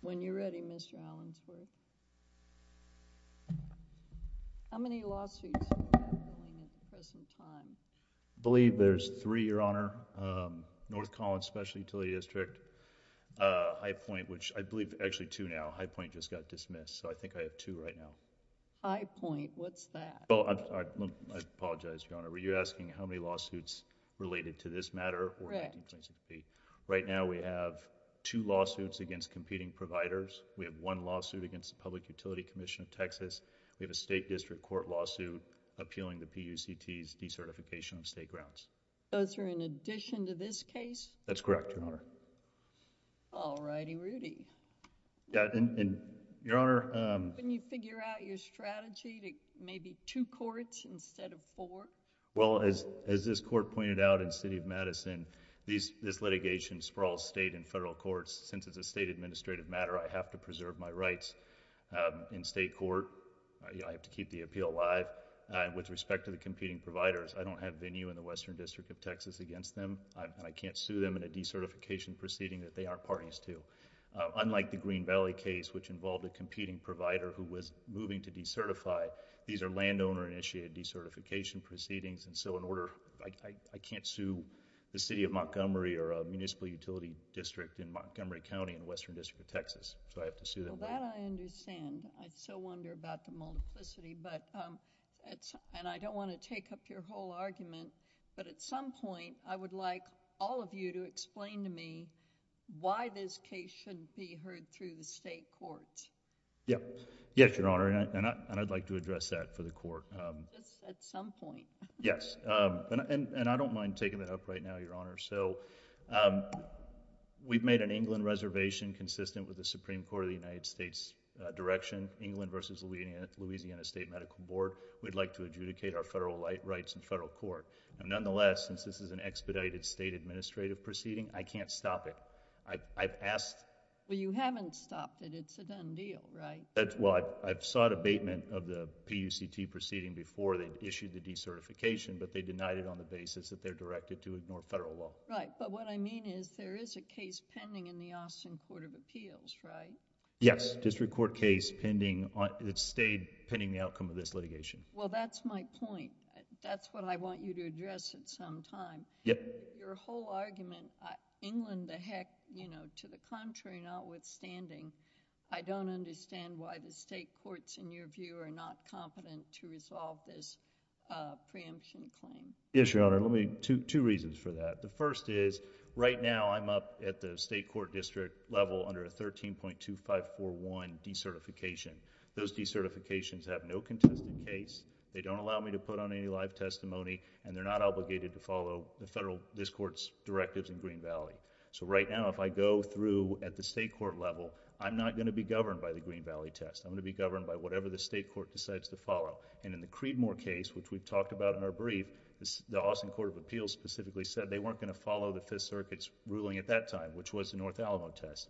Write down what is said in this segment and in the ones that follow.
when you're ready Mr. Allensworth. How many lawsuits? I believe there's three, Your Honor. North Collins Special Utility District, High Point, which I believe actually two now. High Point just got dismissed, so I think I have two right now. High Point, what's that? Well, I apologize, Your Honor. Were you asking how many lawsuits related to this one lawsuit against the Public Utility Commission of Texas. We have a state district court lawsuit appealing the PUCT's decertification of state grounds. Those are in addition to this case? That's correct, Your Honor. All righty, Rudy. Yeah, and Your Honor... Can you figure out your strategy to maybe two courts instead of four? Well, as this court pointed out in City of I have to preserve my rights in state court. I have to keep the appeal alive. With respect to the competing providers, I don't have venue in the Western District of Texas against them, and I can't sue them in a decertification proceeding that they aren't parties to. Unlike the Green Valley case, which involved a competing provider who was moving to decertify, these are landowner-initiated decertification proceedings, and so in order... I can't sue the City of Montgomery or a municipal utility district in Montgomery County in the Western District of Texas, so I have to sue them. Well, that I understand. I still wonder about the multiplicity, and I don't want to take up your whole argument, but at some point, I would like all of you to explain to me why this case shouldn't be heard through the state courts. Yeah. Yes, Your Honor, and I'd like to address that for the court. Just at some point. Yes, and I don't mind taking that up right now, Your Honor. So, we've made an England reservation consistent with the Supreme Court of the United States direction, England versus Louisiana State Medical Board. We'd like to adjudicate our federal rights in federal court. Nonetheless, since this is an expedited state administrative proceeding, I can't stop it. I've asked... Well, you haven't stopped it. It's a done deal, right? Well, I've sought abatement of the PUCT proceeding before they've issued the federal law. Right, but what I mean is there is a case pending in the Austin Court of Appeals, right? Yes, district court case pending. It's stayed pending the outcome of this litigation. Well, that's my point. That's what I want you to address at some time. Yep. Your whole argument, England the heck, you know, to the contrary, notwithstanding, I don't understand why the state courts, in your view, are not competent to resolve this preemption claim. Yes, Your Honor. Let me... two reasons for that. The first is right now I'm up at the state court district level under a 13.2541 decertification. Those decertifications have no contested case. They don't allow me to put on any live testimony and they're not obligated to follow the federal, this court's directives in Green Valley. So right now, if I go through at the state court level, I'm not going to be governed by the Green Valley test. I'm going to be governed by whatever the state court decides to follow. In the Creedmoor case, which we've talked about in our brief, the Austin Court of Appeals specifically said they weren't going to follow the Fifth Circuit's ruling at that time, which was the North Alamo test.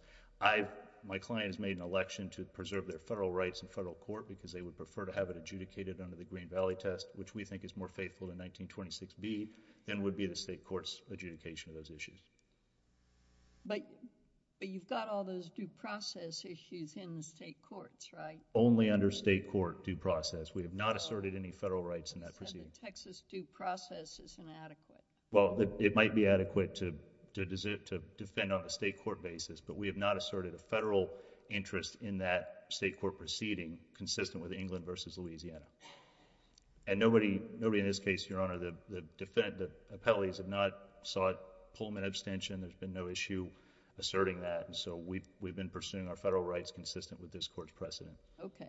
My client has made an election to preserve their federal rights in federal court because they would prefer to have it adjudicated under the Green Valley test, which we think is more faithful to 1926B than would be the state court's adjudication of those issues. But you've got all those due process issues in the state courts, right? Only under state court due process. We have not asserted any federal rights in that proceeding. The Texas due process is inadequate. Well, it might be adequate to defend on a state court basis, but we have not asserted a federal interest in that state court proceeding consistent with England v. Louisiana. And nobody in this case, Your Honor, the appellees have not sought Pullman abstention. There's been no issue asserting that. So we've been pursuing our federal rights consistent with this court's precedent. Okay.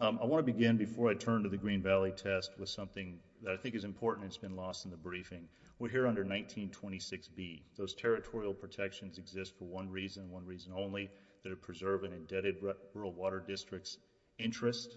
I want to begin before I turn to the Green Valley test with something that I think is important that's been lost in the briefing. We're here under 1926B. Those territorial protections exist for one reason, one reason only, to preserve an indebted rural water district's interest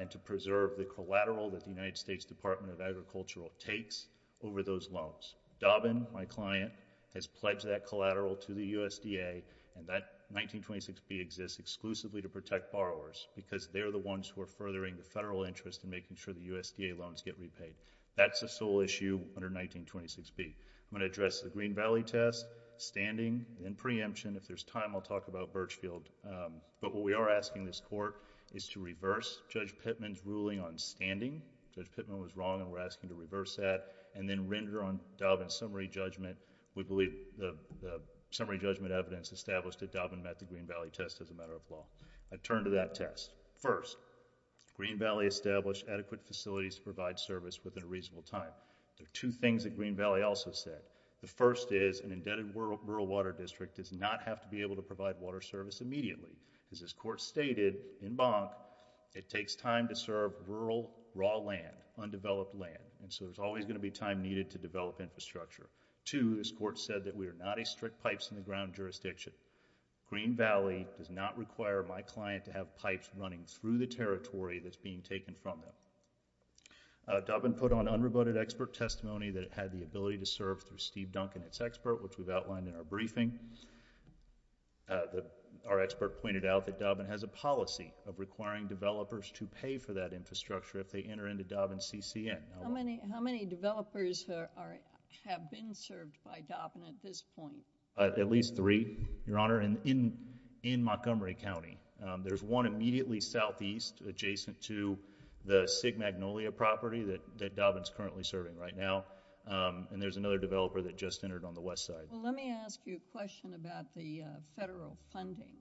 and to preserve the collateral that the United States Department of Agriculture takes over those loans. Dobbin, my client, has pledged that collateral to the USDA, and that 1926B exists exclusively to protect borrowers because they're the ones who are furthering the federal interest in making sure the USDA loans get repaid. That's the sole issue under 1926B. I'm going to address the Green Valley test, standing, and preemption. If there's time, I'll talk about Birchfield. But what we are asking this court is to reverse Judge Pittman's ruling on standing. Judge Pittman was wrong, and we're asking to reverse that, and then render on Dobbin's summary judgment. We believe the summary judgment evidence established that Dobbin met the Green Valley test as a matter of law. I turn to that test. First, Green Valley established adequate facilities to provide service within a reasonable time. There are two things that Green Valley also said. The first is an indebted rural water district does not have to be able to provide water service immediately. As this court stated in Bonk, it takes time to serve rural raw land, undeveloped land, and so there's always going to be time needed to develop infrastructure. Two, this court said that we are not a strict pipes in the ground jurisdiction. Green Valley does not require my client to have pipes running through the territory that's being taken from them. Dobbin put on unrebutted expert testimony that it had the ability to serve through Steve Duncan, its expert, which we've outlined in our briefing. Our expert pointed out that Dobbin has a policy of requiring developers to pay for that infrastructure if they enter into Dobbin's CCN. How many developers have been served by Dobbin at this point? At least three, Your Honor, in Montgomery County. There's one immediately southeast adjacent to the Sig Magnolia property that Dobbin's currently serving right now, and there's another developer that just entered on the west side. Let me ask you a question about the federal funding.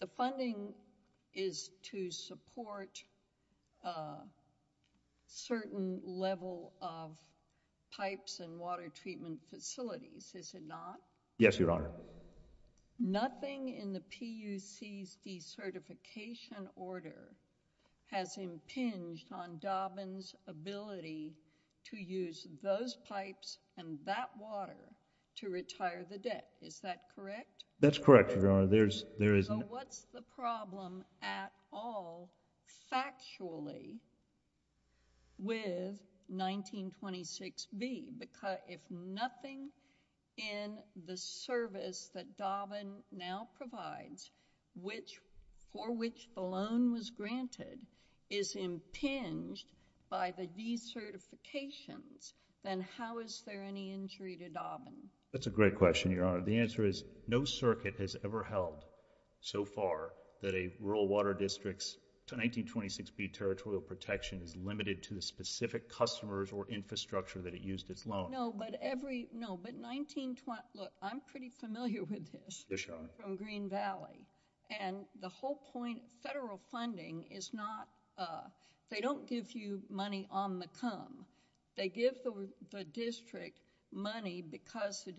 The funding is to support a certain level of pipes and water treatment facilities, is it not? Yes, Your Honor. Nothing in the PUC's decertification order has impinged on Dobbin's ability to use those pipes and that water to retire the debt. Is that correct? That's correct, Your Honor. There is no... Factually, with 1926B, if nothing in the service that Dobbin now provides for which the loan was granted is impinged by the decertifications, then how is there any injury to Dobbin? That's a great question, Your Honor. The answer is no circuit has ever held so far that a rural water district's 1926B territorial protection is limited to the specific customers or infrastructure that it used its loan. No, but 1926... look, I'm pretty familiar with this. Yes, Your Honor. From Green Valley, and the whole point of federal funding is not... they don't give you money on the come. They give the district money because the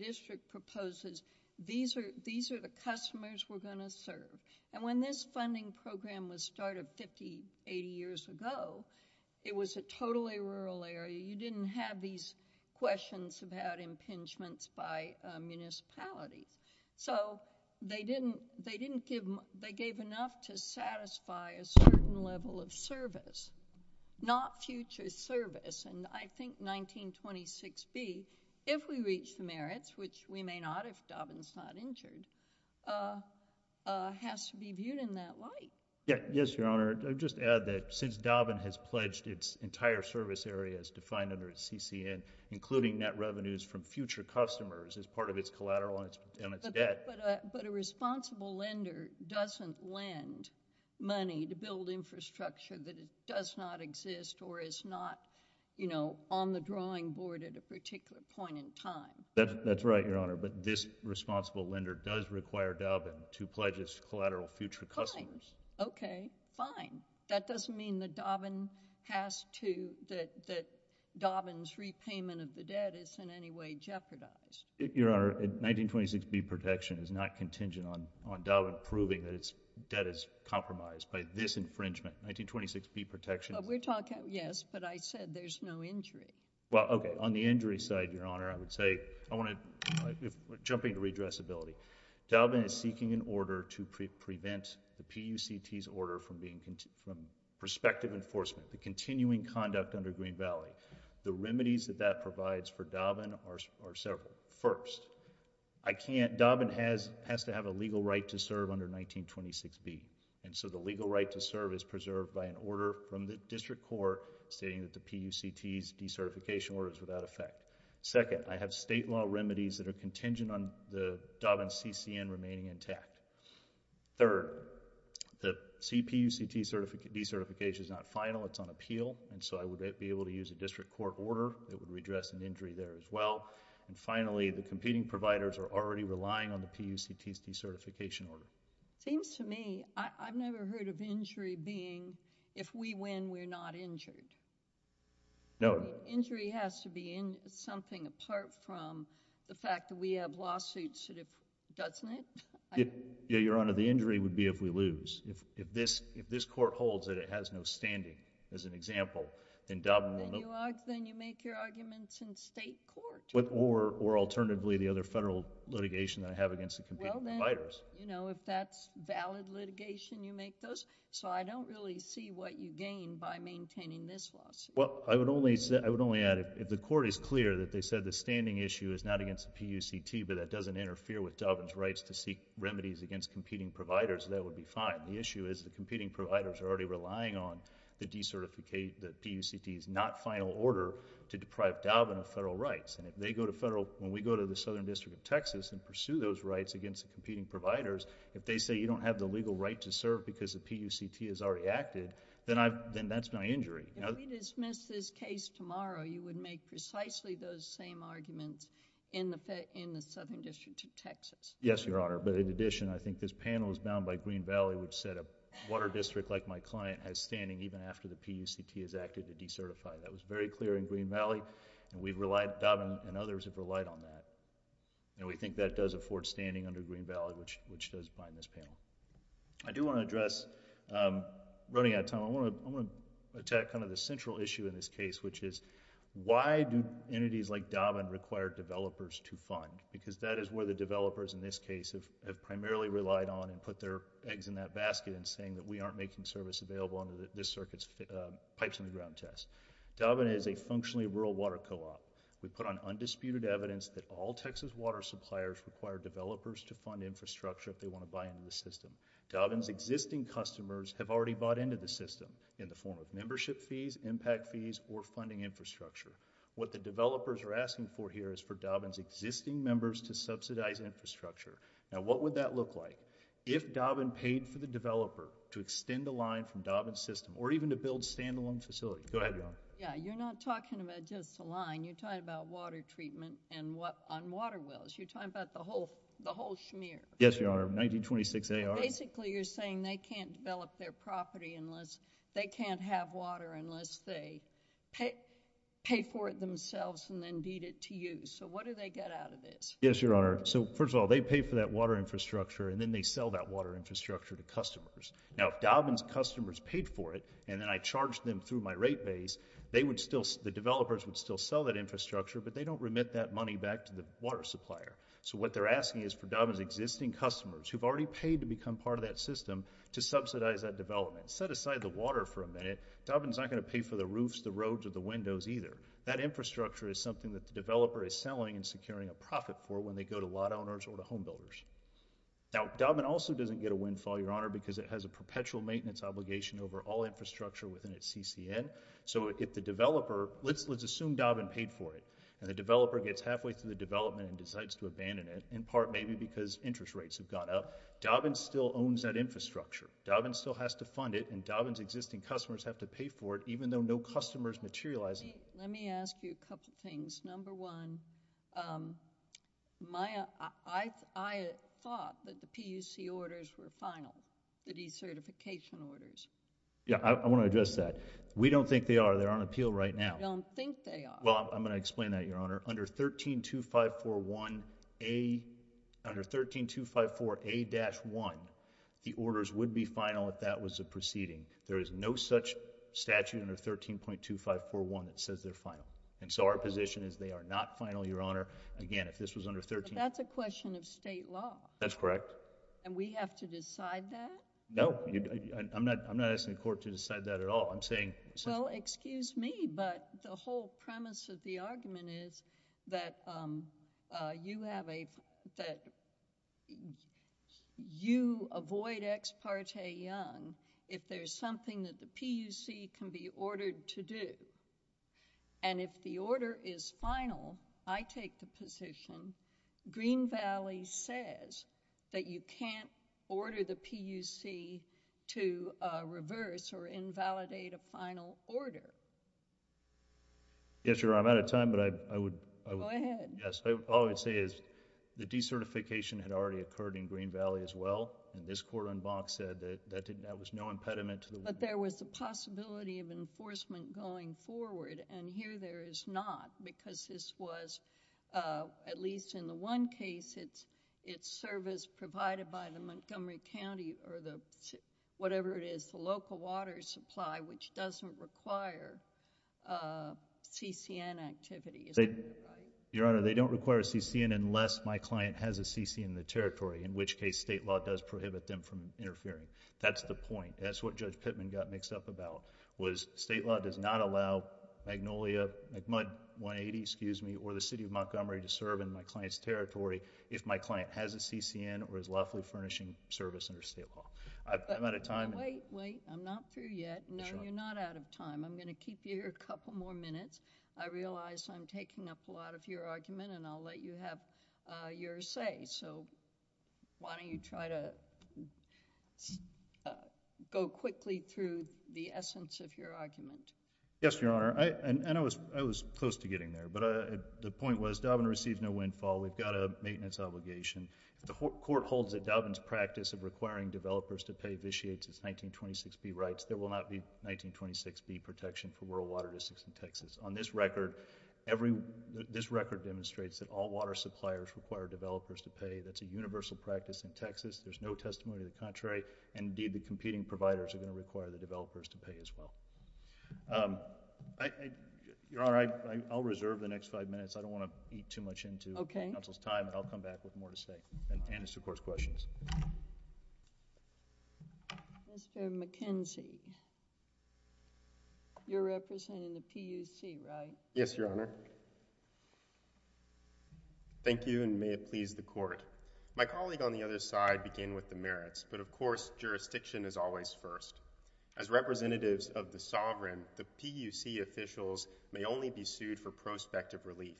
when this funding program was started 50, 80 years ago, it was a totally rural area. You didn't have these questions about impingements by municipalities. So they didn't give... they gave enough to satisfy a certain level of service, not future service. And I think 1926B, if we reach the merits, which we may not if Dobbin's not injured, has to be viewed in that light. Yes, Your Honor. I'll just add that since Dobbin has pledged its entire service area as defined under its CCN, including net revenues from future customers as part of its collateral and its debt... But a responsible lender doesn't lend money to build infrastructure that does not exist or is not, you know, on the drawing board at a particular point in time. That's right, Your Honor, but this responsible lender does require Dobbin to pledge its collateral to future customers. Okay, fine. That doesn't mean that Dobbin has to... that Dobbin's repayment of the debt is in any way jeopardized. Your Honor, 1926B protection is not contingent on Dobbin proving that its debt is compromised by this infringement. 1926B protection... We're talking... yes, but I said there's no injury. Well, okay. On the injury side, Your Honor, I would say... I want to... jumping to redressability. Dobbin is seeking an order to prevent the PUCT's order from being... from prospective enforcement, the continuing conduct under Green Valley. The remedies that that provides for Dobbin are several. First, I can't... Dobbin has to have a legal right to serve under 1926B, and so the legal right to serve is preserved by an order from the district court stating that the PUCT's decertification order is without effect. Second, I have state law remedies that are contingent on the Dobbin CCN remaining intact. Third, the CPUCT decertification is not final. It's on appeal, and so I would be able to use a district court order that would redress an injury there as well. And finally, the competing providers are already relying on the PUCT's decertification order. It seems to me, I've never heard of injury being, if we win, we're not injured. No. Injury has to be something apart from the fact that we have lawsuits that have... doesn't it? Yeah, Your Honor, the injury would be if we lose. If this, if this court holds that it has no standing, as an example, then Dobbin will... Then you make your arguments in state court. Or alternatively, the other federal litigation that I have against the competing providers. Well, then, you know, if that's valid litigation, you make those. So I don't really see what you gain by maintaining this lawsuit. Well, I would only say, I would only add, if the court is clear that they said the standing issue is not against the PUCT, but that doesn't interfere with Dobbin's rights to seek remedies against competing providers, that would be fine. The issue is the competing providers are already relying on the PUCT's not final order to deprive Dobbin of federal rights. And if they go to federal... when we go to the Southern District of Texas and pursue those rights against the competing providers, if they say you don't have the legal right to serve because the PUCT has already acted, then I've... then that's my injury. If we dismiss this case tomorrow, you would make precisely those same arguments in the Southern District of Texas? Yes, Your Honor. But in addition, I think this panel is bound by Green Valley which said a water district like my client has standing even after the PUCT has acted to decertify. That was very clear in Green Valley and we relied... Dobbin and others have relied on that. And we think that does afford standing under Green Valley which does bind this panel. I do want to address... running out of time, I want to attack kind of the central issue in this case which is why do entities like Dobbin require developers to fund? Because that is where the developers in this case have primarily relied on and put their eggs in that basket in saying that we aren't making service available under this circuit's pipes on the ground test. Dobbin is a functionally rural water co-op. We put on undisputed evidence that all Texas water suppliers require developers to fund infrastructure if they want to buy into the system. Dobbin's existing customers have already bought into the system in the form of membership fees, impact fees or funding infrastructure. What the developers are asking for here is for Dobbin's existing members to subsidize infrastructure. Now, what would that look like if Dobbin paid for the developer to extend the line from Dobbin's system or even to build a stand-alone facility? Go ahead, Your Honor. Yeah, you're not talking about just a line. You're talking about water treatment and what on water wells. You're talking about the whole, the whole schmear. Yes, Your Honor. 1926 A.R. Basically, you're saying they can't develop their property unless they can't have water unless they pay for it themselves and then deed it to you. So what do they get out of this? Yes, Your Honor. So first of all, they pay for that water infrastructure and then they sell that water infrastructure to customers. Now, if Dobbin's customers paid for it and then I charged them through my rate base, they would still, the developers would still sell that infrastructure but they don't remit that money back to the water supplier. So what they're asking is for Dobbin's existing customers who've already paid to become part of that system to subsidize that development. Set aside the water for a minute. Dobbin's not going to pay for the roofs, the roads, or the windows either. That infrastructure is something that the developer is selling and securing a profit for when they go to lot owners or to homebuilders. Now, Dobbin also doesn't get a windfall, Your Honor, because it has a perpetual maintenance obligation over all infrastructure within its CCN. So if the developer, let's assume Dobbin paid for it and the developer gets halfway through the development and decides to abandon it, in part maybe because interest rates have gone up, Dobbin still owns that infrastructure. Dobbin still has to fund it and Dobbin's existing customers have to pay for it even though no customers materialize it. Let me ask you a couple of things. Number one, Maya, I thought that the PUC orders were final, the decertification orders. Yeah, I want to address that. We don't think they are. They're on appeal right now. I don't think they are. Well, I'm going to explain that, Your Honor. Under 132541A, under 13254A-1, the orders would be final if that was a proceeding. There is no such statute under 13.2541 that says they're final. And so our position is they are not final, Your Honor. Again, if this was under 13... That's a question of I'm not asking the court to decide that at all. I'm saying... Well, excuse me, but the whole premise of the argument is that you have a... that you avoid ex parte young if there's something that the PUC can be ordered to do. And if the order is final, I take the position, Green Valley says that you can't reverse or invalidate a final order. Yes, Your Honor. I'm out of time, but I would... Go ahead. Yes. All I would say is the decertification had already occurred in Green Valley as well, and this court in Bonk said that that was no impediment to the... But there was a possibility of enforcement going forward, and here there is not because this was, at least in the one case, it's service provided by the local water supply, which doesn't require a CCN activity, is that right? Your Honor, they don't require a CCN unless my client has a CCN in the territory, in which case state law does prohibit them from interfering. That's the point. That's what Judge Pittman got mixed up about was state law does not allow Magnolia, McMudd 180, excuse me, or the City of Montgomery to serve in my client's territory if my client has a CCN or is lawfully furnishing service under state law. I'm out of time. Wait, wait. I'm not through yet. No, you're not out of time. I'm going to keep you here a couple more minutes. I realize I'm taking up a lot of your argument and I'll let you have your say, so why don't you try to go quickly through the essence of your argument? Yes, Your Honor. I was close to getting there, but the point was Dobbin receives no windfall. We've got a maintenance obligation. If the court holds that Dobbin's practice of requiring developers to pay vitiates its 1926B rights, there will not be 1926B protection for rural water districts in Texas. On this record, this record demonstrates that all water suppliers require developers to pay. That's a universal practice in Texas. There's no testimony to the contrary, and indeed the competing providers are going to require the developers to pay as well. Your Honor, I'll reserve the next five minutes. I don't want to eat too much into counsel's time, and I'll come back with more to say, and answer court's questions. Mr. McKenzie, you're representing the PUC, right? Yes, Your Honor. Thank you, and may it please the court. My colleague on the other side began with the merits, but of course, jurisdiction is always first. As representatives of the sovereign, the PUC officials may only be sued for prospective relief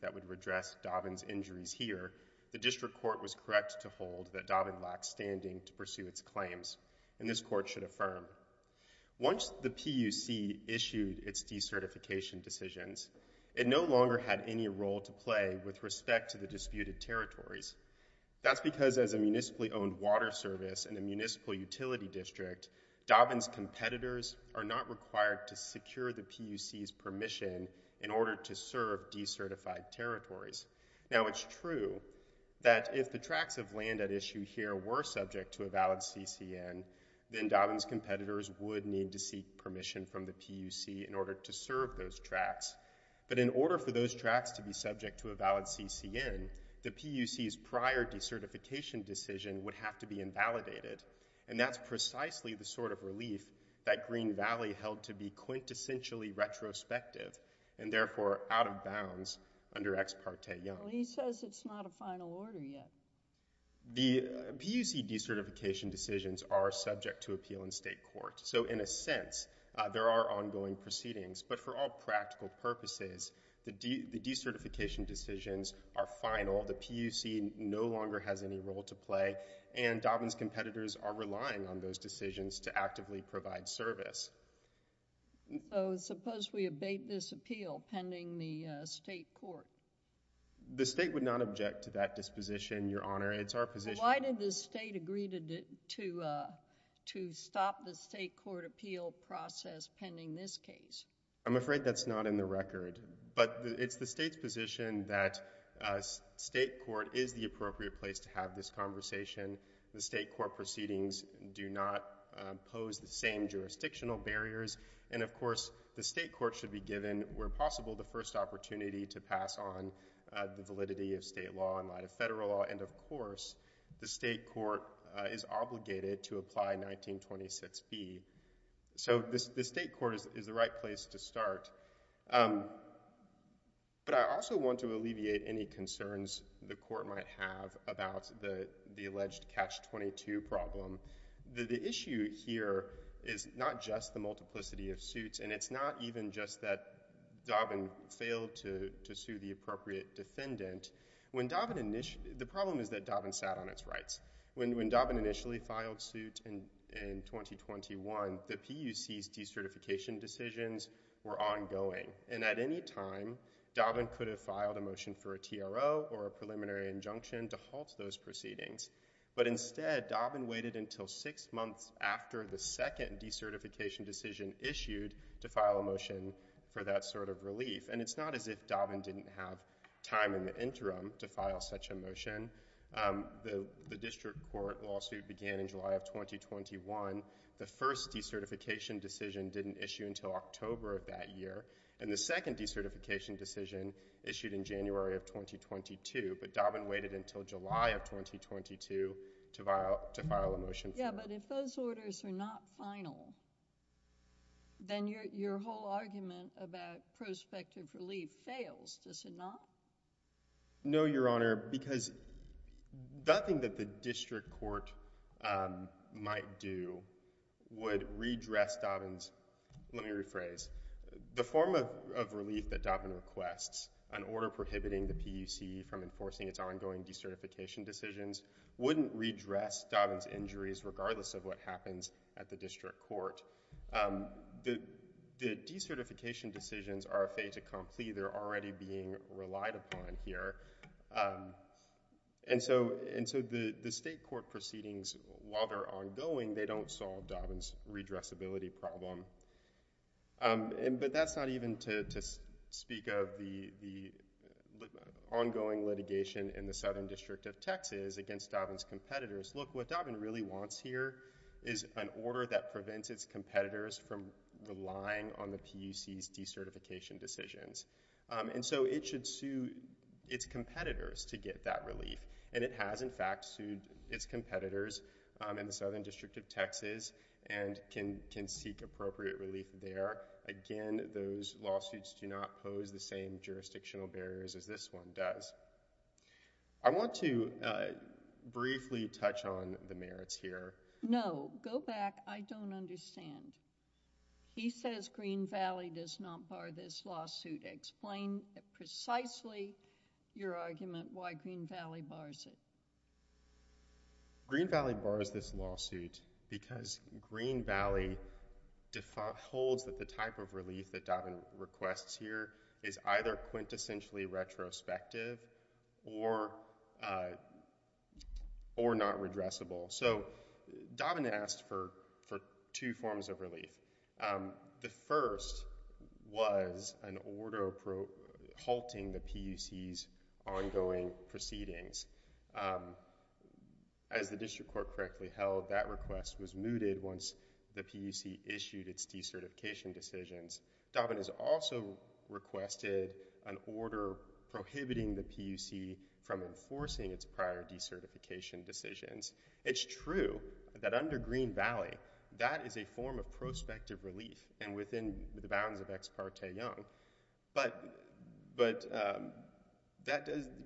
that would redress Dobbin's injuries here. The district court was correct to hold that Dobbin lacks standing to pursue its claims, and this court should affirm. Once the PUC issued its decertification decisions, it no longer had any role to play with respect to the disputed territories. That's because as a municipally owned water service and a municipal utility district, Dobbin's competitors are not required to secure the PUC's permission in order to serve decertified territories. Now, it's true that if the tracts of land at issue here were subject to a valid CCN, then Dobbin's competitors would need to seek permission from the PUC in order to serve those tracts, but in order for those tracts to be subject to a valid CCN, the PUC's prior decertification decision would have to be invalidated, and that's precisely the sort of relief that Green Valley held to be quintessentially retrospective, and therefore out of bounds under Ex Parte Young. Well, he says it's not a final order yet. The PUC decertification decisions are subject to appeal in state court, so in a sense, there are ongoing proceedings, but for all practical purposes, the decertification decisions are final. The PUC no longer has any role to play, and Dobbin's competitors are relying on those decisions to actively provide service. So, suppose we abate this appeal pending the state court? The state would not object to that disposition, Your Honor. It's our position. Why did the state agree to stop the state court appeal process pending this case? I'm afraid that's not in the record, but it's the state's position that state court is the appropriate place to have this conversation. The state court proceedings do not pose the same jurisdictional barriers, and of course, the state court should be given, where possible, the first opportunity to pass on the validity of state law in light of federal law, and of course, the state court is obligated to apply 1926B. So, the state court is the right place to start, but I also want to alleviate any concerns the court might have about the problem. The issue here is not just the multiplicity of suits, and it's not even just that Dobbin failed to sue the appropriate defendant. The problem is that Dobbin sat on its rights. When Dobbin initially filed suit in 2021, the PUC's decertification decisions were ongoing, and at any time, Dobbin could have filed a motion for a TRO or a preliminary injunction to halt those proceedings, but instead, Dobbin waited until six months after the second decertification decision issued to file a motion for that sort of relief, and it's not as if Dobbin didn't have time in the interim to file such a motion. The district court lawsuit began in July of 2021. The first decertification decision didn't issue until October of that year, and the second decertification decision issued in January of 2022, but Dobbin waited to file a motion for that. Yeah, but if those orders are not final, then your whole argument about prospective relief fails, does it not? No, Your Honor, because nothing that the district court might do would redress Dobbin's... let me rephrase. The form of relief that Dobbin requests, an order to redress Dobbin's injuries, regardless of what happens at the district court, the decertification decisions are a fait accompli. They're already being relied upon here, and so the state court proceedings, while they're ongoing, they don't solve Dobbin's redressability problem, but that's not even to speak of the ongoing litigation in the Southern District of Texas against Dobbin's competitors. Look, what Dobbin really wants here is an order that prevents its competitors from relying on the PUC's decertification decisions, and so it should sue its competitors to get that relief, and it has, in fact, sued its competitors in the Southern District of Texas and can seek appropriate relief there. Again, those lawsuits do not pose the same jurisdictional barriers as this one does. I want to briefly touch on the merits here. No, go back. I don't understand. He says Green Valley does not bar this lawsuit. Explain precisely your argument why Green Valley bars it. Green Valley bars this lawsuit because Green Valley holds that the type of lawsuit is either prospective or not redressable, so Dobbin asked for two forms of relief. The first was an order halting the PUC's ongoing proceedings. As the district court correctly held, that request was mooted once the PUC issued its decertification decisions. Dobbin has also requested an order prohibiting the PUC from enforcing its prior decertification decisions. It's true that under Green Valley, that is a form of prospective relief, and within the bounds of Ex Parte Young, but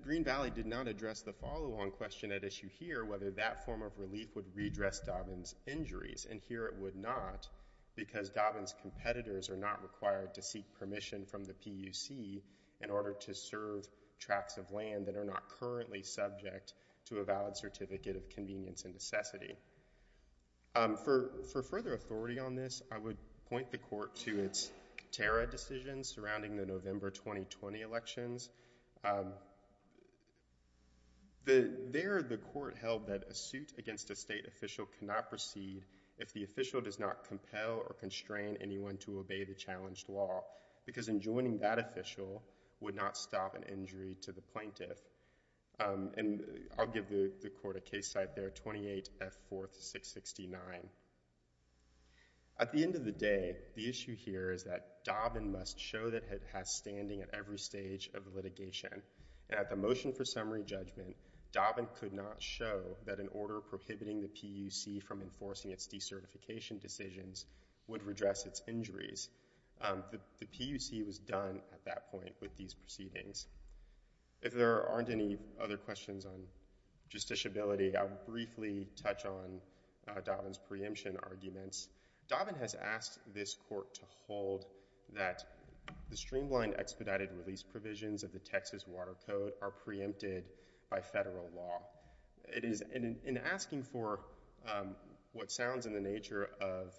Green Valley did not address the follow-on question at issue here, whether that form of relief would redress Dobbin's injuries, and here it would not because Dobbin's competitors are not required to seek permission from the PUC in order to serve tracts of land that are not currently subject to a valid certificate of convenience and necessity. For further authority on this, I would point the court to its Catera decisions surrounding the November 2020 elections. There the court held that a suit against a state official cannot proceed if the official does not obey the challenged law, because enjoining that official would not stop an injury to the plaintiff, and I'll give the court a case site there, 28 F. 4th, 669. At the end of the day, the issue here is that Dobbin must show that it has standing at every stage of litigation, and at the motion for summary judgment, Dobbin could not show that an order prohibiting the PUC from enforcing its injuries. The PUC was done at that point with these proceedings. If there aren't any other questions on justiciability, I will briefly touch on Dobbin's preemption arguments. Dobbin has asked this court to hold that the streamlined expedited release provisions of the Texas Water Code are preempted by federal law. It is, in asking for what sounds in the nature of...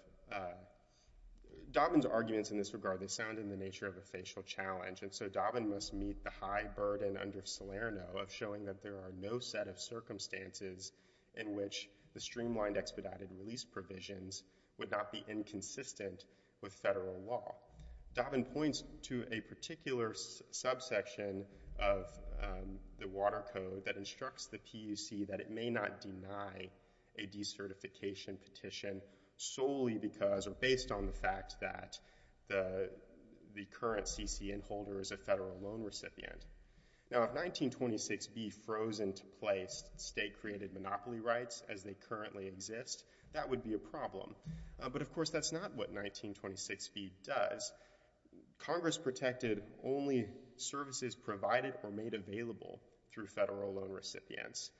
Dobbin's arguments in this regard, they sound in the nature of a facial challenge, and so Dobbin must meet the high burden under Salerno of showing that there are no set of circumstances in which the streamlined expedited release provisions would not be inconsistent with federal law. Dobbin points to a particular subsection of the Water Code that instructs the PUC that it may not deny a decertification petition solely because, or based on the fact that the current CCN holder is a federal loan recipient. Now, if 1926B froze into place state-created monopoly rights as they currently exist, that would be a only services provided or made available through federal loan recipients.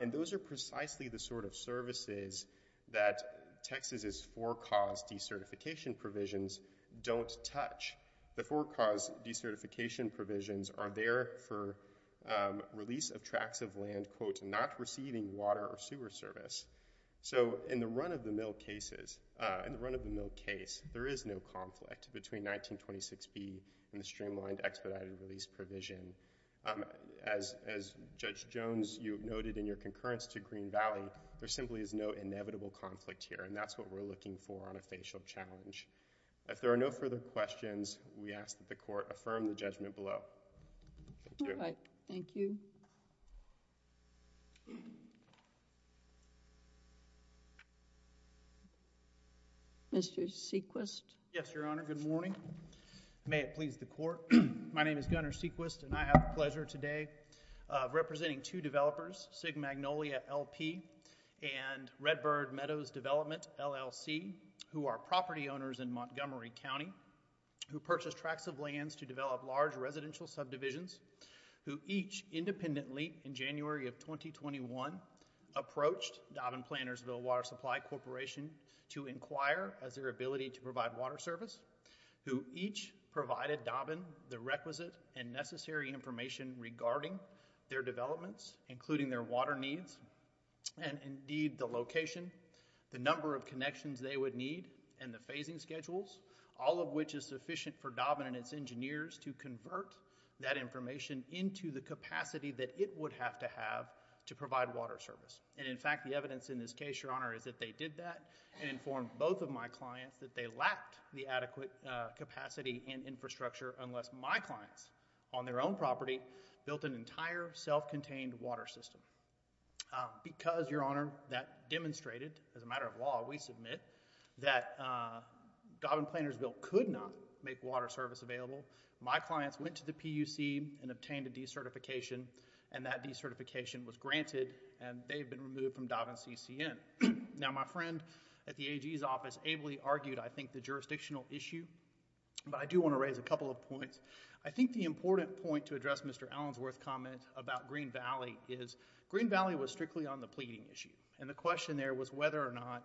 And those are precisely the sort of services that Texas' for-cause decertification provisions don't touch. The for-cause decertification provisions are there for release of tracts of land, quote, not receiving water or sewer service. So, in the run-of- expedited release provision, as Judge Jones, you noted in your concurrence to Green Valley, there simply is no inevitable conflict here, and that's what we're looking for on a facial challenge. If there are no further questions, we ask that the Court affirm the judgment below. Thank you. All right. Thank you. Mr. Sequist. Yes, Your Honor. Good morning. May it please the Court. My name is Gunner Sequist, and I have the pleasure today of representing two developers, Sig Magnolia L.P. and Redbird Meadows Development, LLC, who are property owners in Montgomery County, who purchased tracts of lands to develop large residential subdivisions, who each independently in January of 2021 approached Dobbin Plannersville Water Supply Corporation to inquire as their ability to provide water service, who each provided Dobbin the requisite and necessary information regarding their developments, including their water needs, and indeed the location, the number of connections they would need, and the phasing schedules, all of which is sufficient for Dobbin and its engineers to convert that information into the capacity that it would have to have to provide water service. And in fact, the evidence in this case, Your Honor, is that they did that and informed both of my clients that they lacked the adequate capacity and infrastructure unless my clients on their own property built an entire self-contained water system. Because, Your Honor, that demonstrated, as a matter of law, we submit that Dobbin Plannersville could not make water service available. My clients went to the PUC and obtained a decertification, and that decertification was granted, and they've been removed from Dobbin CCN. Now, my friend at the AG's office ably argued, I think, the jurisdictional issue, but I do want to raise a couple of points. I think the important point to address Mr. Allensworth's comment about Green Valley is Green Valley was strictly on the pleading issue, and the question there was whether or not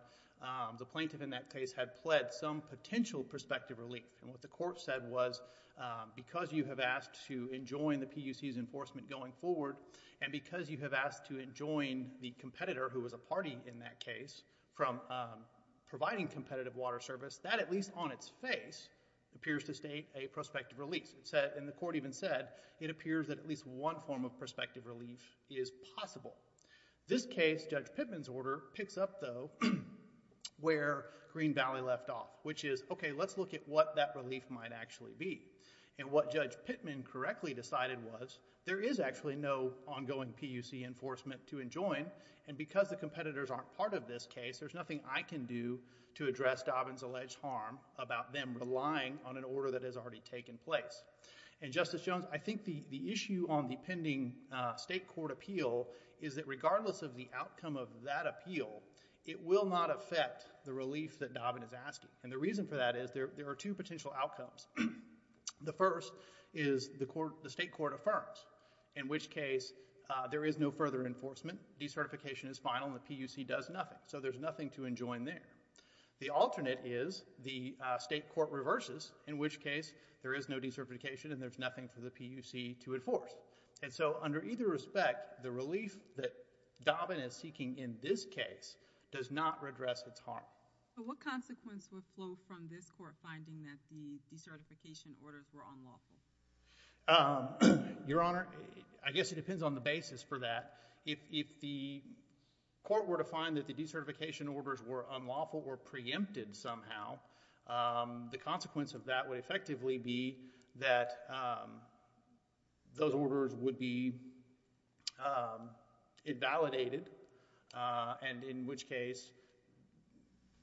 the plaintiff in that case had pled some potential prospective relief. And what the court said was, because you have asked to enjoin the PUC's enforcement going forward, and because you have asked to enjoin the competitor, who was a party in that case, from providing competitive water service, that, at least on its face, appears to state a prospective relief. And the court even said, it appears that at least one form of prospective relief is possible. This case, Judge Pittman's order, picks up, though, where Green Valley left off, which is, okay, let's look at what that relief might actually be. And what Judge Pittman correctly decided was, there is actually no ongoing PUC enforcement to enjoin, and because the competitors aren't part of this case, there's nothing I can do to address Dobbin's alleged harm about them relying on an order that has already taken place. And Justice Jones, I think the issue on the pending state court appeal is that regardless of the outcome of that appeal, it will not affect the relief that Dobbin is asking. And the reason for that is, there are two potential outcomes. The first is, the state court affirms, in which case, there is no further enforcement, decertification is final, and the PUC does nothing. So there's nothing to enjoin there. The alternate is, the state court reverses, in which case, there is no decertification and there's nothing for the PUC to enforce. And so, under either respect, the relief that Dobbin is seeking in this case does not redress its harm. But what consequence would flow from this court finding that the decertification orders were unlawful? Your Honor, I guess it depends on the basis for that. If the court were to find that the decertification orders were unlawful or preempted somehow, the consequence of that would effectively be that those orders would be invalidated, and in which case,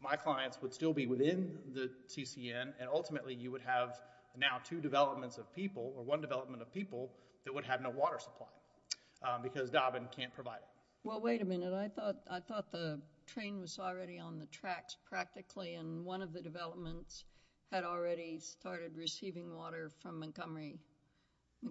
my clients would still be within the TCN, and ultimately, you would have now two developments of people, or one development of people, that would have no water supply, because Dobbin can't provide it. Well, wait a minute. I thought the train was already on the tracks, practically, and one of the developments had already started receiving water from Montgomery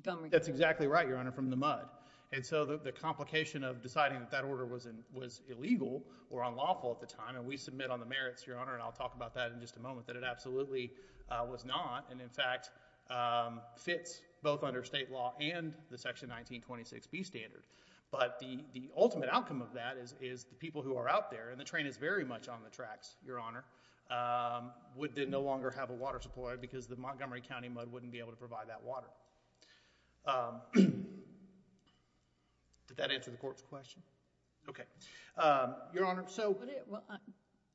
County. That's exactly right, Your Honor, from the mud. And so, the complication of deciding that that order was illegal or unlawful at the time, and we submit on the merits, Your Honor, and I'll talk about that in just a moment, that it absolutely was not, and in fact, fits both under state law and the Section 1926B standard. But the ultimate outcome of that is the people who are out there, and the train is very much on the tracks, Your Honor, would no longer have a water supply, because the Montgomery County mud wouldn't be able to provide that water. Did that answer the Court's question? Okay. Your Honor, so...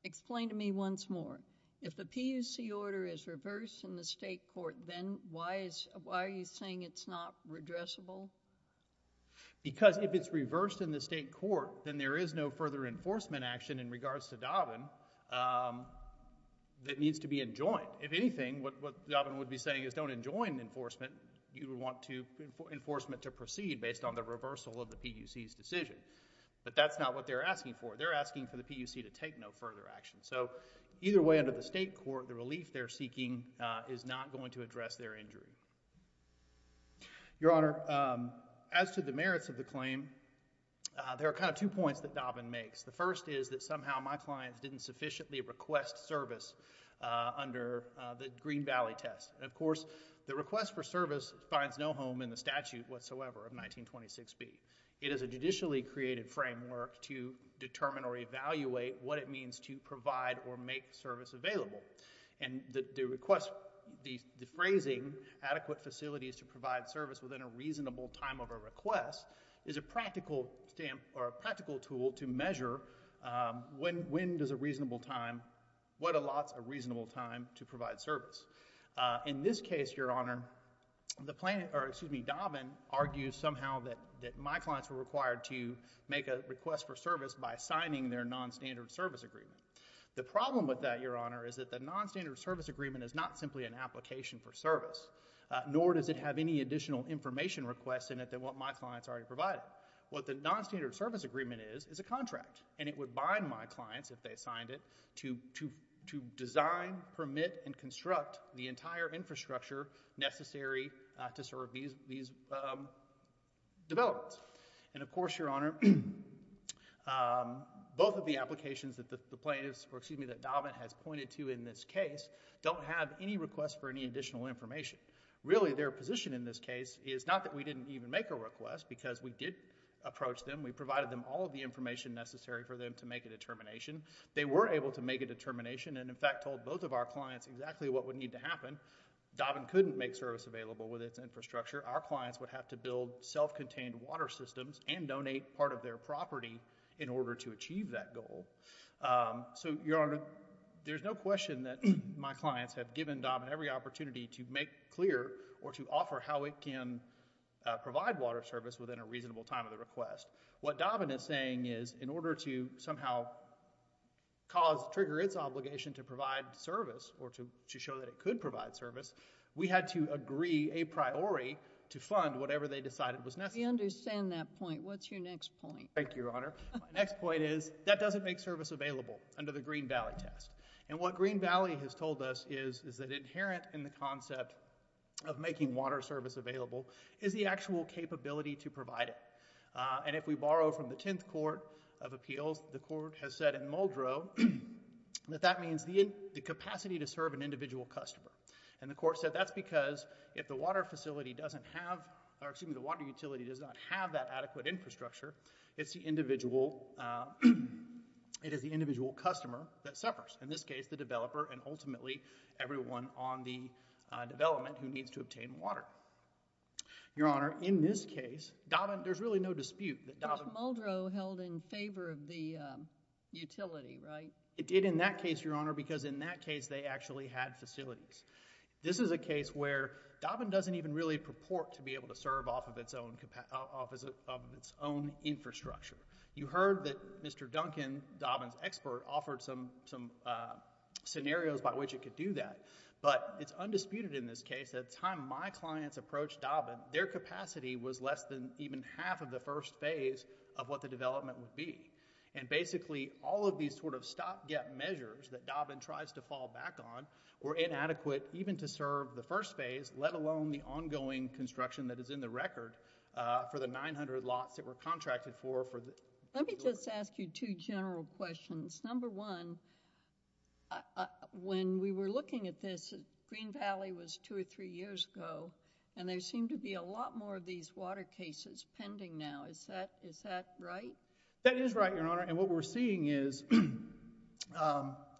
Explain to me once more. If the PUC order is reversed in the state court, then why are you saying it's not redressable? Because if it's reversed in the state court, then there is no further enforcement action in regards to Dobbin that needs to be enjoined. If anything, what Dobbin would be saying is don't enjoin enforcement. You would want enforcement to proceed based on the reversal of the PUC's decision. But that's not what they're asking for. They're asking for the PUC to take no further action. So, either way, under the state court, the relief they're seeking is not going to address their injury. Your Honor, as to the merits of the claim, there are kind of two points that Dobbin makes. The first is that somehow my clients didn't sufficiently request service under the Green Valley test. Of course, the request for service finds no home in the statute whatsoever of 1926B. It is a judicially created framework to determine or evaluate what it means to provide or make service available. And the request, the phrasing, adequate facilities to provide service within a reasonable time of a request, is a practical tool to measure when does a reasonable time, what allots a reasonable time to provide service. In this case, Your Honor, Dobbin argues somehow that my clients were required to make a request for service by signing their nonstandard service agreement. The problem with that, Your Honor, is that the nonstandard service agreement is not simply an application for service, nor does it have any additional information request in it than what my clients already provided. What the nonstandard service agreement is, is a contract. And it would bind my clients, if they signed it, to design, permit, and construct the entire infrastructure necessary to serve these developments. And of course, Your Honor, both of the applications that the plaintiffs, or excuse me, that Dobbin has pointed to in this case, don't have any request for any additional information. Really, their position in this case is not that we didn't even make a request, because we did approach them. We provided them all of the information necessary for them to make a determination. They were able to make a determination, and in fact, told both of our clients exactly what would need to happen. Dobbin couldn't make service available with its infrastructure. Our clients would have to build self-contained water systems and donate part of their property in order to achieve that goal. So, Your Honor, there's no question that my clients have given Dobbin every opportunity to make clear or to offer how it can provide water service within a reasonable time of the request. What Dobbin is saying is, in order to somehow cause, trigger its obligation to provide service, or to show that it could provide service, we had to agree a priori to fund whatever they decided was necessary. We understand that point. What's your next point? Thank you, Your Honor. My next point is, that doesn't make service available under the Green Valley test. And what Green Valley has told us is that inherent in the concept of making water service available is the actual capability to provide it. And if we borrow from the Tenth Court of Appeals, the court has said in Muldrow that that means the capacity to serve an individual customer. And the court said that's because if the water facility doesn't have, or excuse me, the water utility does not have that adequate infrastructure, it's the individual, it is the individual customer that suffers. In this case, the developer and ultimately everyone on the development who needs to obtain water. Your Honor, in this case, Dobbin, there's really no dispute that Dobbin... But Muldrow held in favor of the utility, right? It did in that case, Your Honor, because in that case they actually had facilities. This is a case where Dobbin doesn't even really purport to be able to serve off of its own infrastructure. You heard that Mr. Duncan, Dobbin's expert, offered some scenarios by which it could do that. But it's undisputed in this case that the time my clients approached Dobbin, their capacity was less than even half of the first phase of what the development would be. And basically, all of these sort of stop-gap measures that Dobbin tries to fall back on were inadequate even to serve the first phase, let alone the ongoing construction that is in the record for the 900 lots that were contracted for... Let me just ask you two general questions. Number one, when we were looking at this, Green Valley was two or three years ago. And there seem to be a lot more of these water cases pending now. Is that right? That is right, Your Honor. And what we're seeing is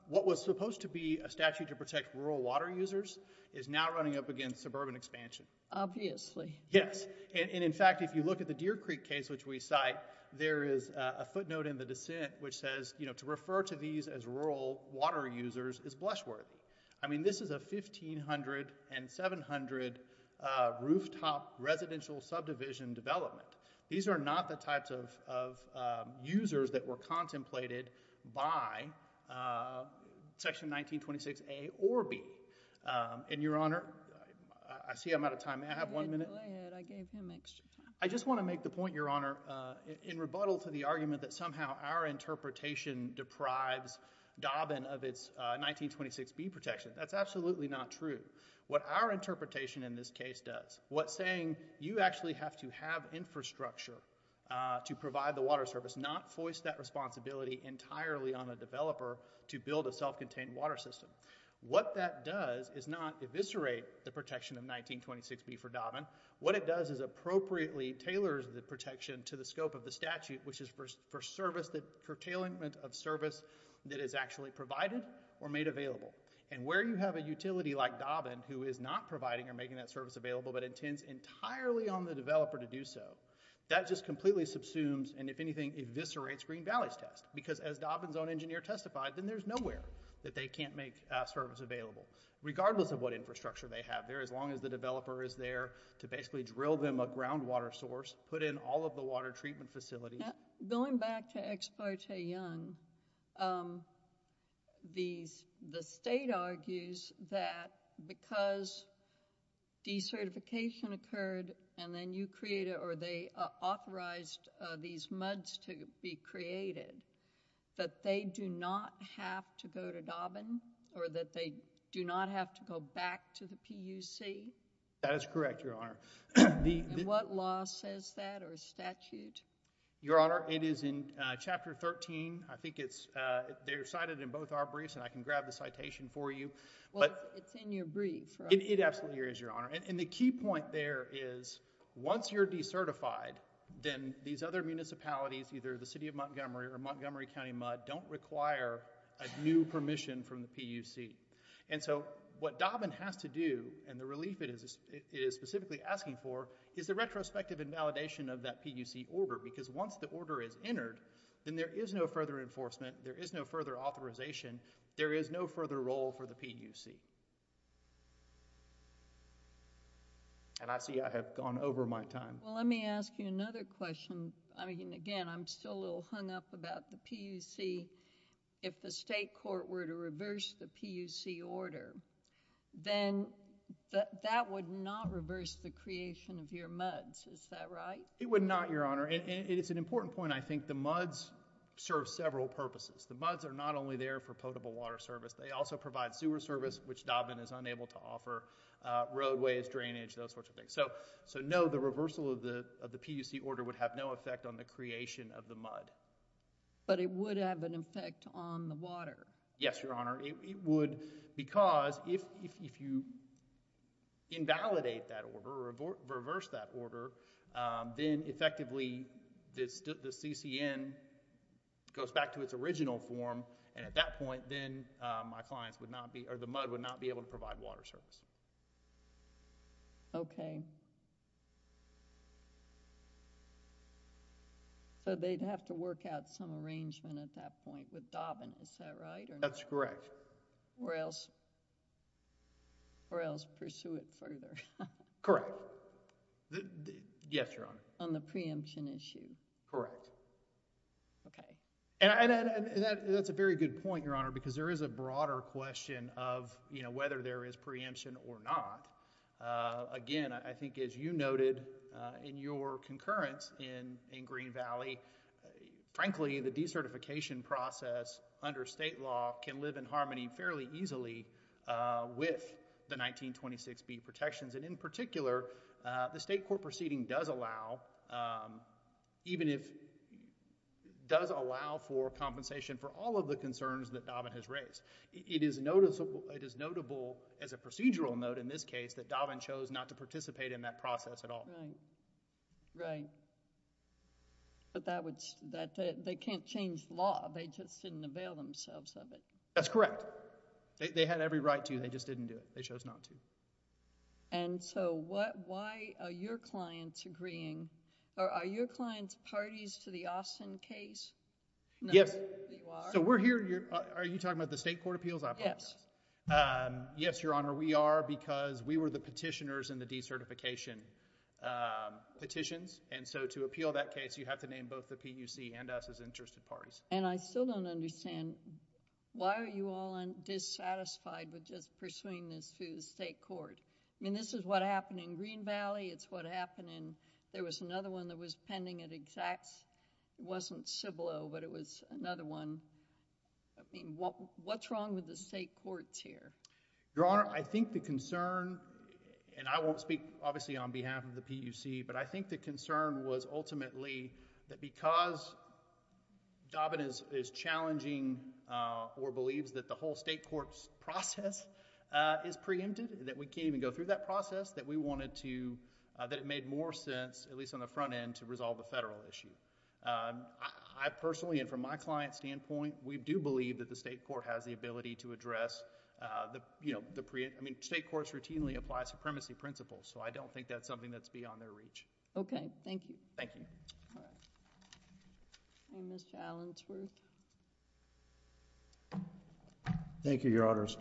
what was supposed to be a statute to protect rural water users is now running up against suburban expansion. Obviously. Yes. And in fact, if you look at the Deer Creek case which we cite, there is a footnote in the dissent which says, you know, to refer to these as rural water users is blushworthy. I mean, this is a 1500 and 700 rooftop residential subdivision development. These are not the types of users that were contemplated by Section 1926A or B. And, Your Honor, I see I'm out of time. May I have one minute? Go ahead. I gave him extra time. I just want to make the point, Your Honor, in rebuttal to the argument that somehow our interpretation deprives Dobbin of its 1926B protection. That's absolutely not true. What our interpretation in this case does, what's saying you actually have to have infrastructure to provide the water service, not foist that responsibility entirely on a developer to build a self-contained water system. What that does is not eviscerate the protection of 1926B for Dobbin. What it does is appropriately tailors the protection to the scope of the statute, which is for service, for tailing of service that is actually provided or made available. And where you have a utility like Dobbin who is not providing or making that service available but intends entirely on the developer to do so, that just completely subsumes and, if anything, eviscerates Green Valley's test. Because as Dobbin's own engineer testified, then there's nowhere that they can't make service available, regardless of what infrastructure they have there. As long as the developer is there to basically drill them a groundwater source, put in all of the water treatment facilities. Going back to Ex parte Young, the state argues that because decertification occurred and then you created or they authorized these muds to be created, that they do not have to go to Dobbin? Or that they do not have to go back to the PUC? That is correct, Your Honor. And what law says that or statute? Your Honor, it is in Chapter 13. They're cited in both our briefs and I can grab the citation for you. Well, it's in your brief, right? It absolutely is, Your Honor. And the key point there is once you're decertified, then these other municipalities, either the City of Montgomery or Montgomery County Mud, don't require a new permission from the PUC. And so what Dobbin has to do, and the relief it is specifically asking for, is the retrospective and validation of that PUC order. Because once the order is entered, then there is no further enforcement, there is no further authorization, there is no further role for the PUC. And I see I have gone over my time. Well, let me ask you another question. Again, I'm still a little hung up about the PUC. If the state court were to reverse the PUC order, then that would not reverse the creation of your muds. Is that right? It would not, Your Honor. And it's an important point. I think the muds serve several purposes. The muds are not only there for potable water service. They also provide sewer service, which Dobbin is unable to offer, roadways, drainage, those sorts of things. So no, the reversal of the PUC order would have no effect on the creation of the mud. But it would have an effect on the water. Yes, Your Honor. It would because if you invalidate that order, reverse that order, then effectively the CCN goes back to its original form, and at that point then my clients would not be, or the mud would not be able to provide water service. Okay. So they'd have to work out some arrangement at that point with Dobbin. Is that right? That's correct. Or else, or else pursue it further. Correct. Yes, Your Honor. On the preemption issue. Correct. Okay. because there is a broader question of, you know, whether there is preemption or not. Again, I think as you noted in your concurrence in Green Valley, frankly the decertification process under state law can live in harmony fairly easily with the 1926b protections. And in particular, the state court proceeding does allow, even if, does allow for compensation for all of the concerns that Dobbin has raised. It is noticeable, it is notable as a procedural note in this case that Dobbin chose not to participate in that process at all. Right. Right. But that would, they can't change the law. They just didn't avail themselves of it. That's correct. They had every right to, they just didn't do it. They chose not to. And so what, why are your clients agreeing, or are your clients parties to the Austin case? Yes. So we're here, are you talking about the state court appeals? Yes. Yes, Your Honor, we are because we were the petitioners in the decertification petitions. And so to appeal that case, you have to name both the PUC and us as interested parties. And I still don't understand, why are you all dissatisfied with just pursuing this through the state court? I mean, this is what happened in Green Valley. It's what happened in, there was another one that was pending at exact, wasn't Cibolo, but it was another one. I mean, what's wrong with the state courts here? Your Honor, I think the concern, and I won't speak obviously on behalf of the PUC, but I think the concern was ultimately that because Dobbin is challenging or believes that the whole state court's process is preempted, that we can't even go through that process, that we wanted to, that it made more sense, at least on the front end, to resolve the federal issue. I personally, and from my client's standpoint, we do believe that the state court has the ability to address, I mean, state courts routinely apply supremacy principles, so I don't think that's something that's beyond their reach. Okay, thank you. Thank you. All right. All right, Mr. Allensworth. Thank you, Your Honors.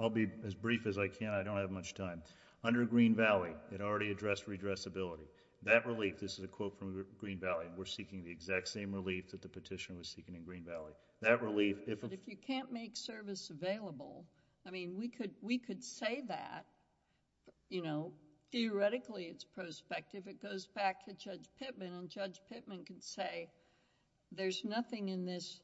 I'll be as brief as I can. I don't have much time. Under Green Valley, it already addressed redressability. That relief, this is a quote from Green Valley, we're seeking the exact same relief that the petitioner was seeking in Green Valley. That relief... But if you can't make service available, I mean, we could say that, you know. Theoretically, it's prospective. It goes back to Judge Pittman, and Judge Pittman can say, there's nothing in this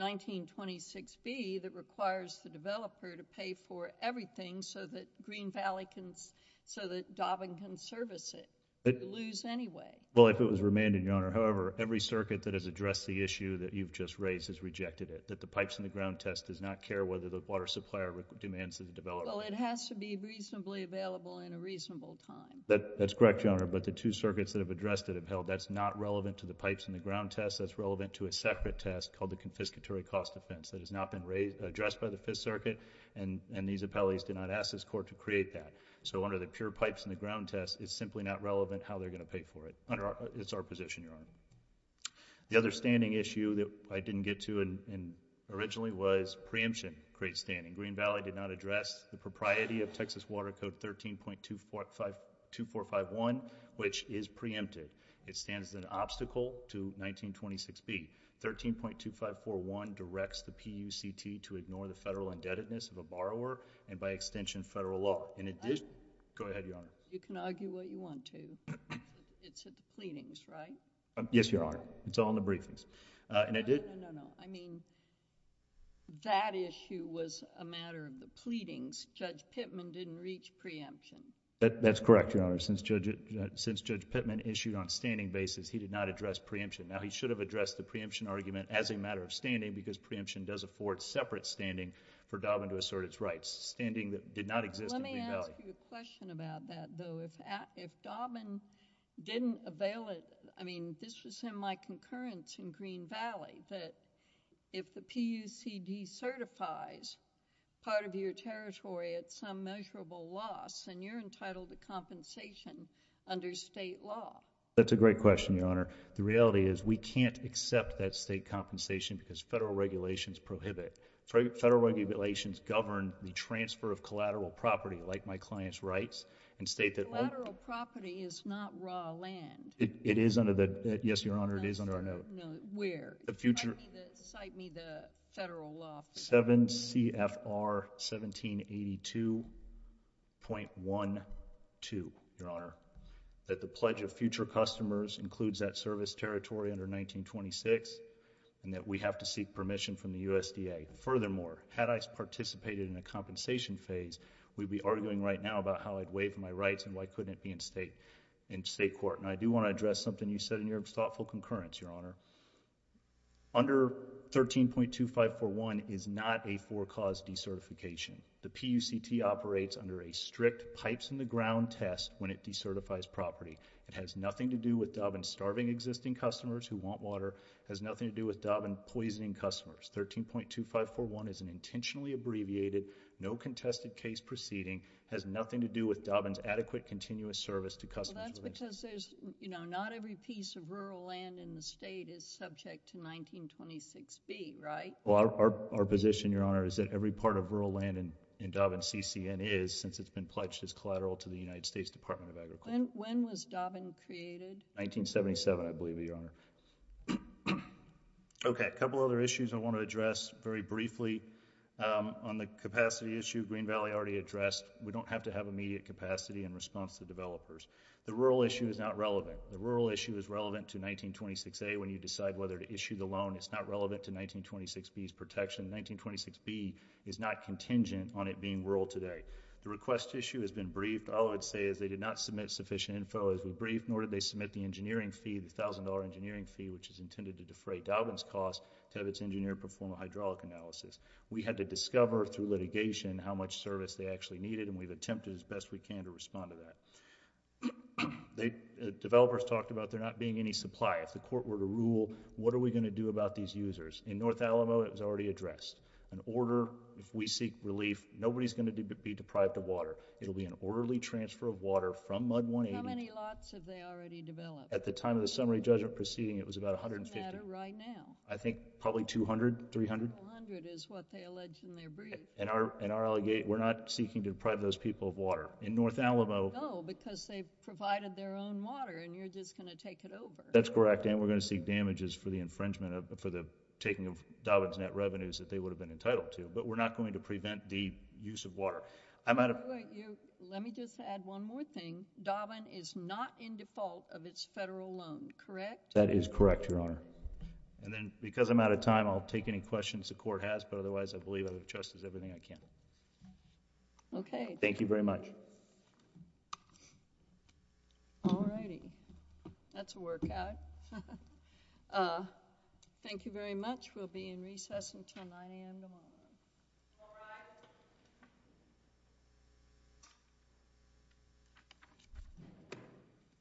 1926B that requires the developer to pay for everything so that Green Valley can... so that Dobbin can service it. We could lose anyway. Well, if it was remanded, Your Honor. However, every circuit that has addressed the issue that you've just raised has rejected it, that the pipes in the ground test does not care whether the water supplier demands that the developer... Well, it has to be reasonably available in a reasonable time. That's correct, Your Honor, but the two circuits that have addressed it have held that's not relevant to the pipes in the ground test. That's relevant to a separate test called the confiscatory cost offense that has not been addressed by the Fifth Circuit, and these appellees did not ask this Court to create that. So under the pure pipes in the ground test, it's simply not relevant how they're going to pay for it. It's our position, Your Honor. The other standing issue that I didn't get to originally was preemption creates standing. Green Valley did not address the propriety of Texas Water Code 13.2451, which is preempted. It stands as an obstacle to 1926B. 13.2541 directs the PUCT to ignore the federal indebtedness of a borrower and by extension federal law. In addition... Go ahead, Your Honor. You can argue what you want to. It's at the pleadings, right? Yes, Your Honor. It's all in the briefings. No, no, no. I mean, that issue was a matter of the pleadings. Judge Pittman didn't reach preemption. That's correct, Your Honor. Since Judge Pittman issued on standing basis, he did not address preemption. Now, he should have addressed the preemption argument as a matter of standing because preemption does afford separate standing for Dobbin to assert its rights, standing that did not exist in Green Valley. Let me ask you a question about that, though. If Dobbin didn't avail it... I mean, this was in my concurrence in Green Valley, that if the PUCD certifies part of your territory at some measurable loss and you're entitled to compensation under state law... That's a great question, Your Honor. The reality is we can't accept that state compensation because federal regulations prohibit. Federal regulations govern the transfer of collateral property like my client's rights and state that... Collateral property is not raw land. It is under the... Yes, Your Honor, it is under our note. No, where? The future... Cite me the federal law... 7 CFR 1782.12, Your Honor, that the pledge of future customers includes that service territory under 1926 and that we have to seek permission from the USDA. Furthermore, had I participated in a compensation phase, we'd be arguing right now about how I'd waive my rights and why couldn't it be in state court. And I do want to address something you said in your thoughtful concurrence, Your Honor. Under 13.2541 is not a four-cause decertification. The PUCT operates under a strict pipes in the ground test when it decertifies property. It has nothing to do with Dobbin's starving existing customers who want water. It has nothing to do with Dobbin poisoning customers. 13.2541 is an intentionally abbreviated, no contested case proceeding. It has nothing to do with Dobbin's adequate continuous service to customers... Well, that's because there's, you know, not every piece of rural land in the state is subject to 1926B, right? Well, our position, Your Honor, is that every part of rural land in Dobbin CCN is, since it's been pledged as collateral to the United States Department of Agriculture. When was Dobbin created? 1977, I believe, Your Honor. Okay, a couple other issues I want to address very briefly. On the capacity issue, Green Valley already addressed. We don't have to have immediate capacity in response to developers. The rural issue is not relevant. The rural issue is relevant to 1926A when you decide whether to issue the loan. It's not relevant to 1926B's protection. 1926B is not contingent on it being rural today. The request issue has been briefed. All I would say is they did not submit sufficient info as we briefed, nor did they submit the engineering fee, the $1,000 engineering fee, which is intended to defray Dobbin's cost to have its engineer perform a hydraulic analysis. We had to discover through litigation how much service they actually needed, and we've attempted as best we can to respond to that. Developers talked about there not being any supply. If the court were to rule, what are we going to do about these users? In North Alamo, it was already addressed. An order, if we seek relief, nobody's going to be deprived of water. It will be an orderly transfer of water from MUD 180. How many lots have they already developed? At the time of the summary judgment proceeding, it was about 150. What's the matter right now? I think probably 200, 300. 200 is what they allege in their brief. And our allegation, we're not seeking to deprive those people of water. In North Alamo. No, because they provided their own water, and you're just going to take it over. That's correct. And we're going to seek damages for the infringement, for the taking of Dobbin's net revenues that they would have been entitled to. But we're not going to prevent the use of water. Let me just add one more thing. Dobbin is not in default of its federal loan, correct? That is correct, Your Honor. And then because I'm out of time, I'll take any questions the court has, but otherwise I believe I've addressed everything I can. Okay. Thank you very much. Thank you. All righty. That's a workout. Thank you very much. We'll be in recess until 9 a.m. tomorrow. All rise.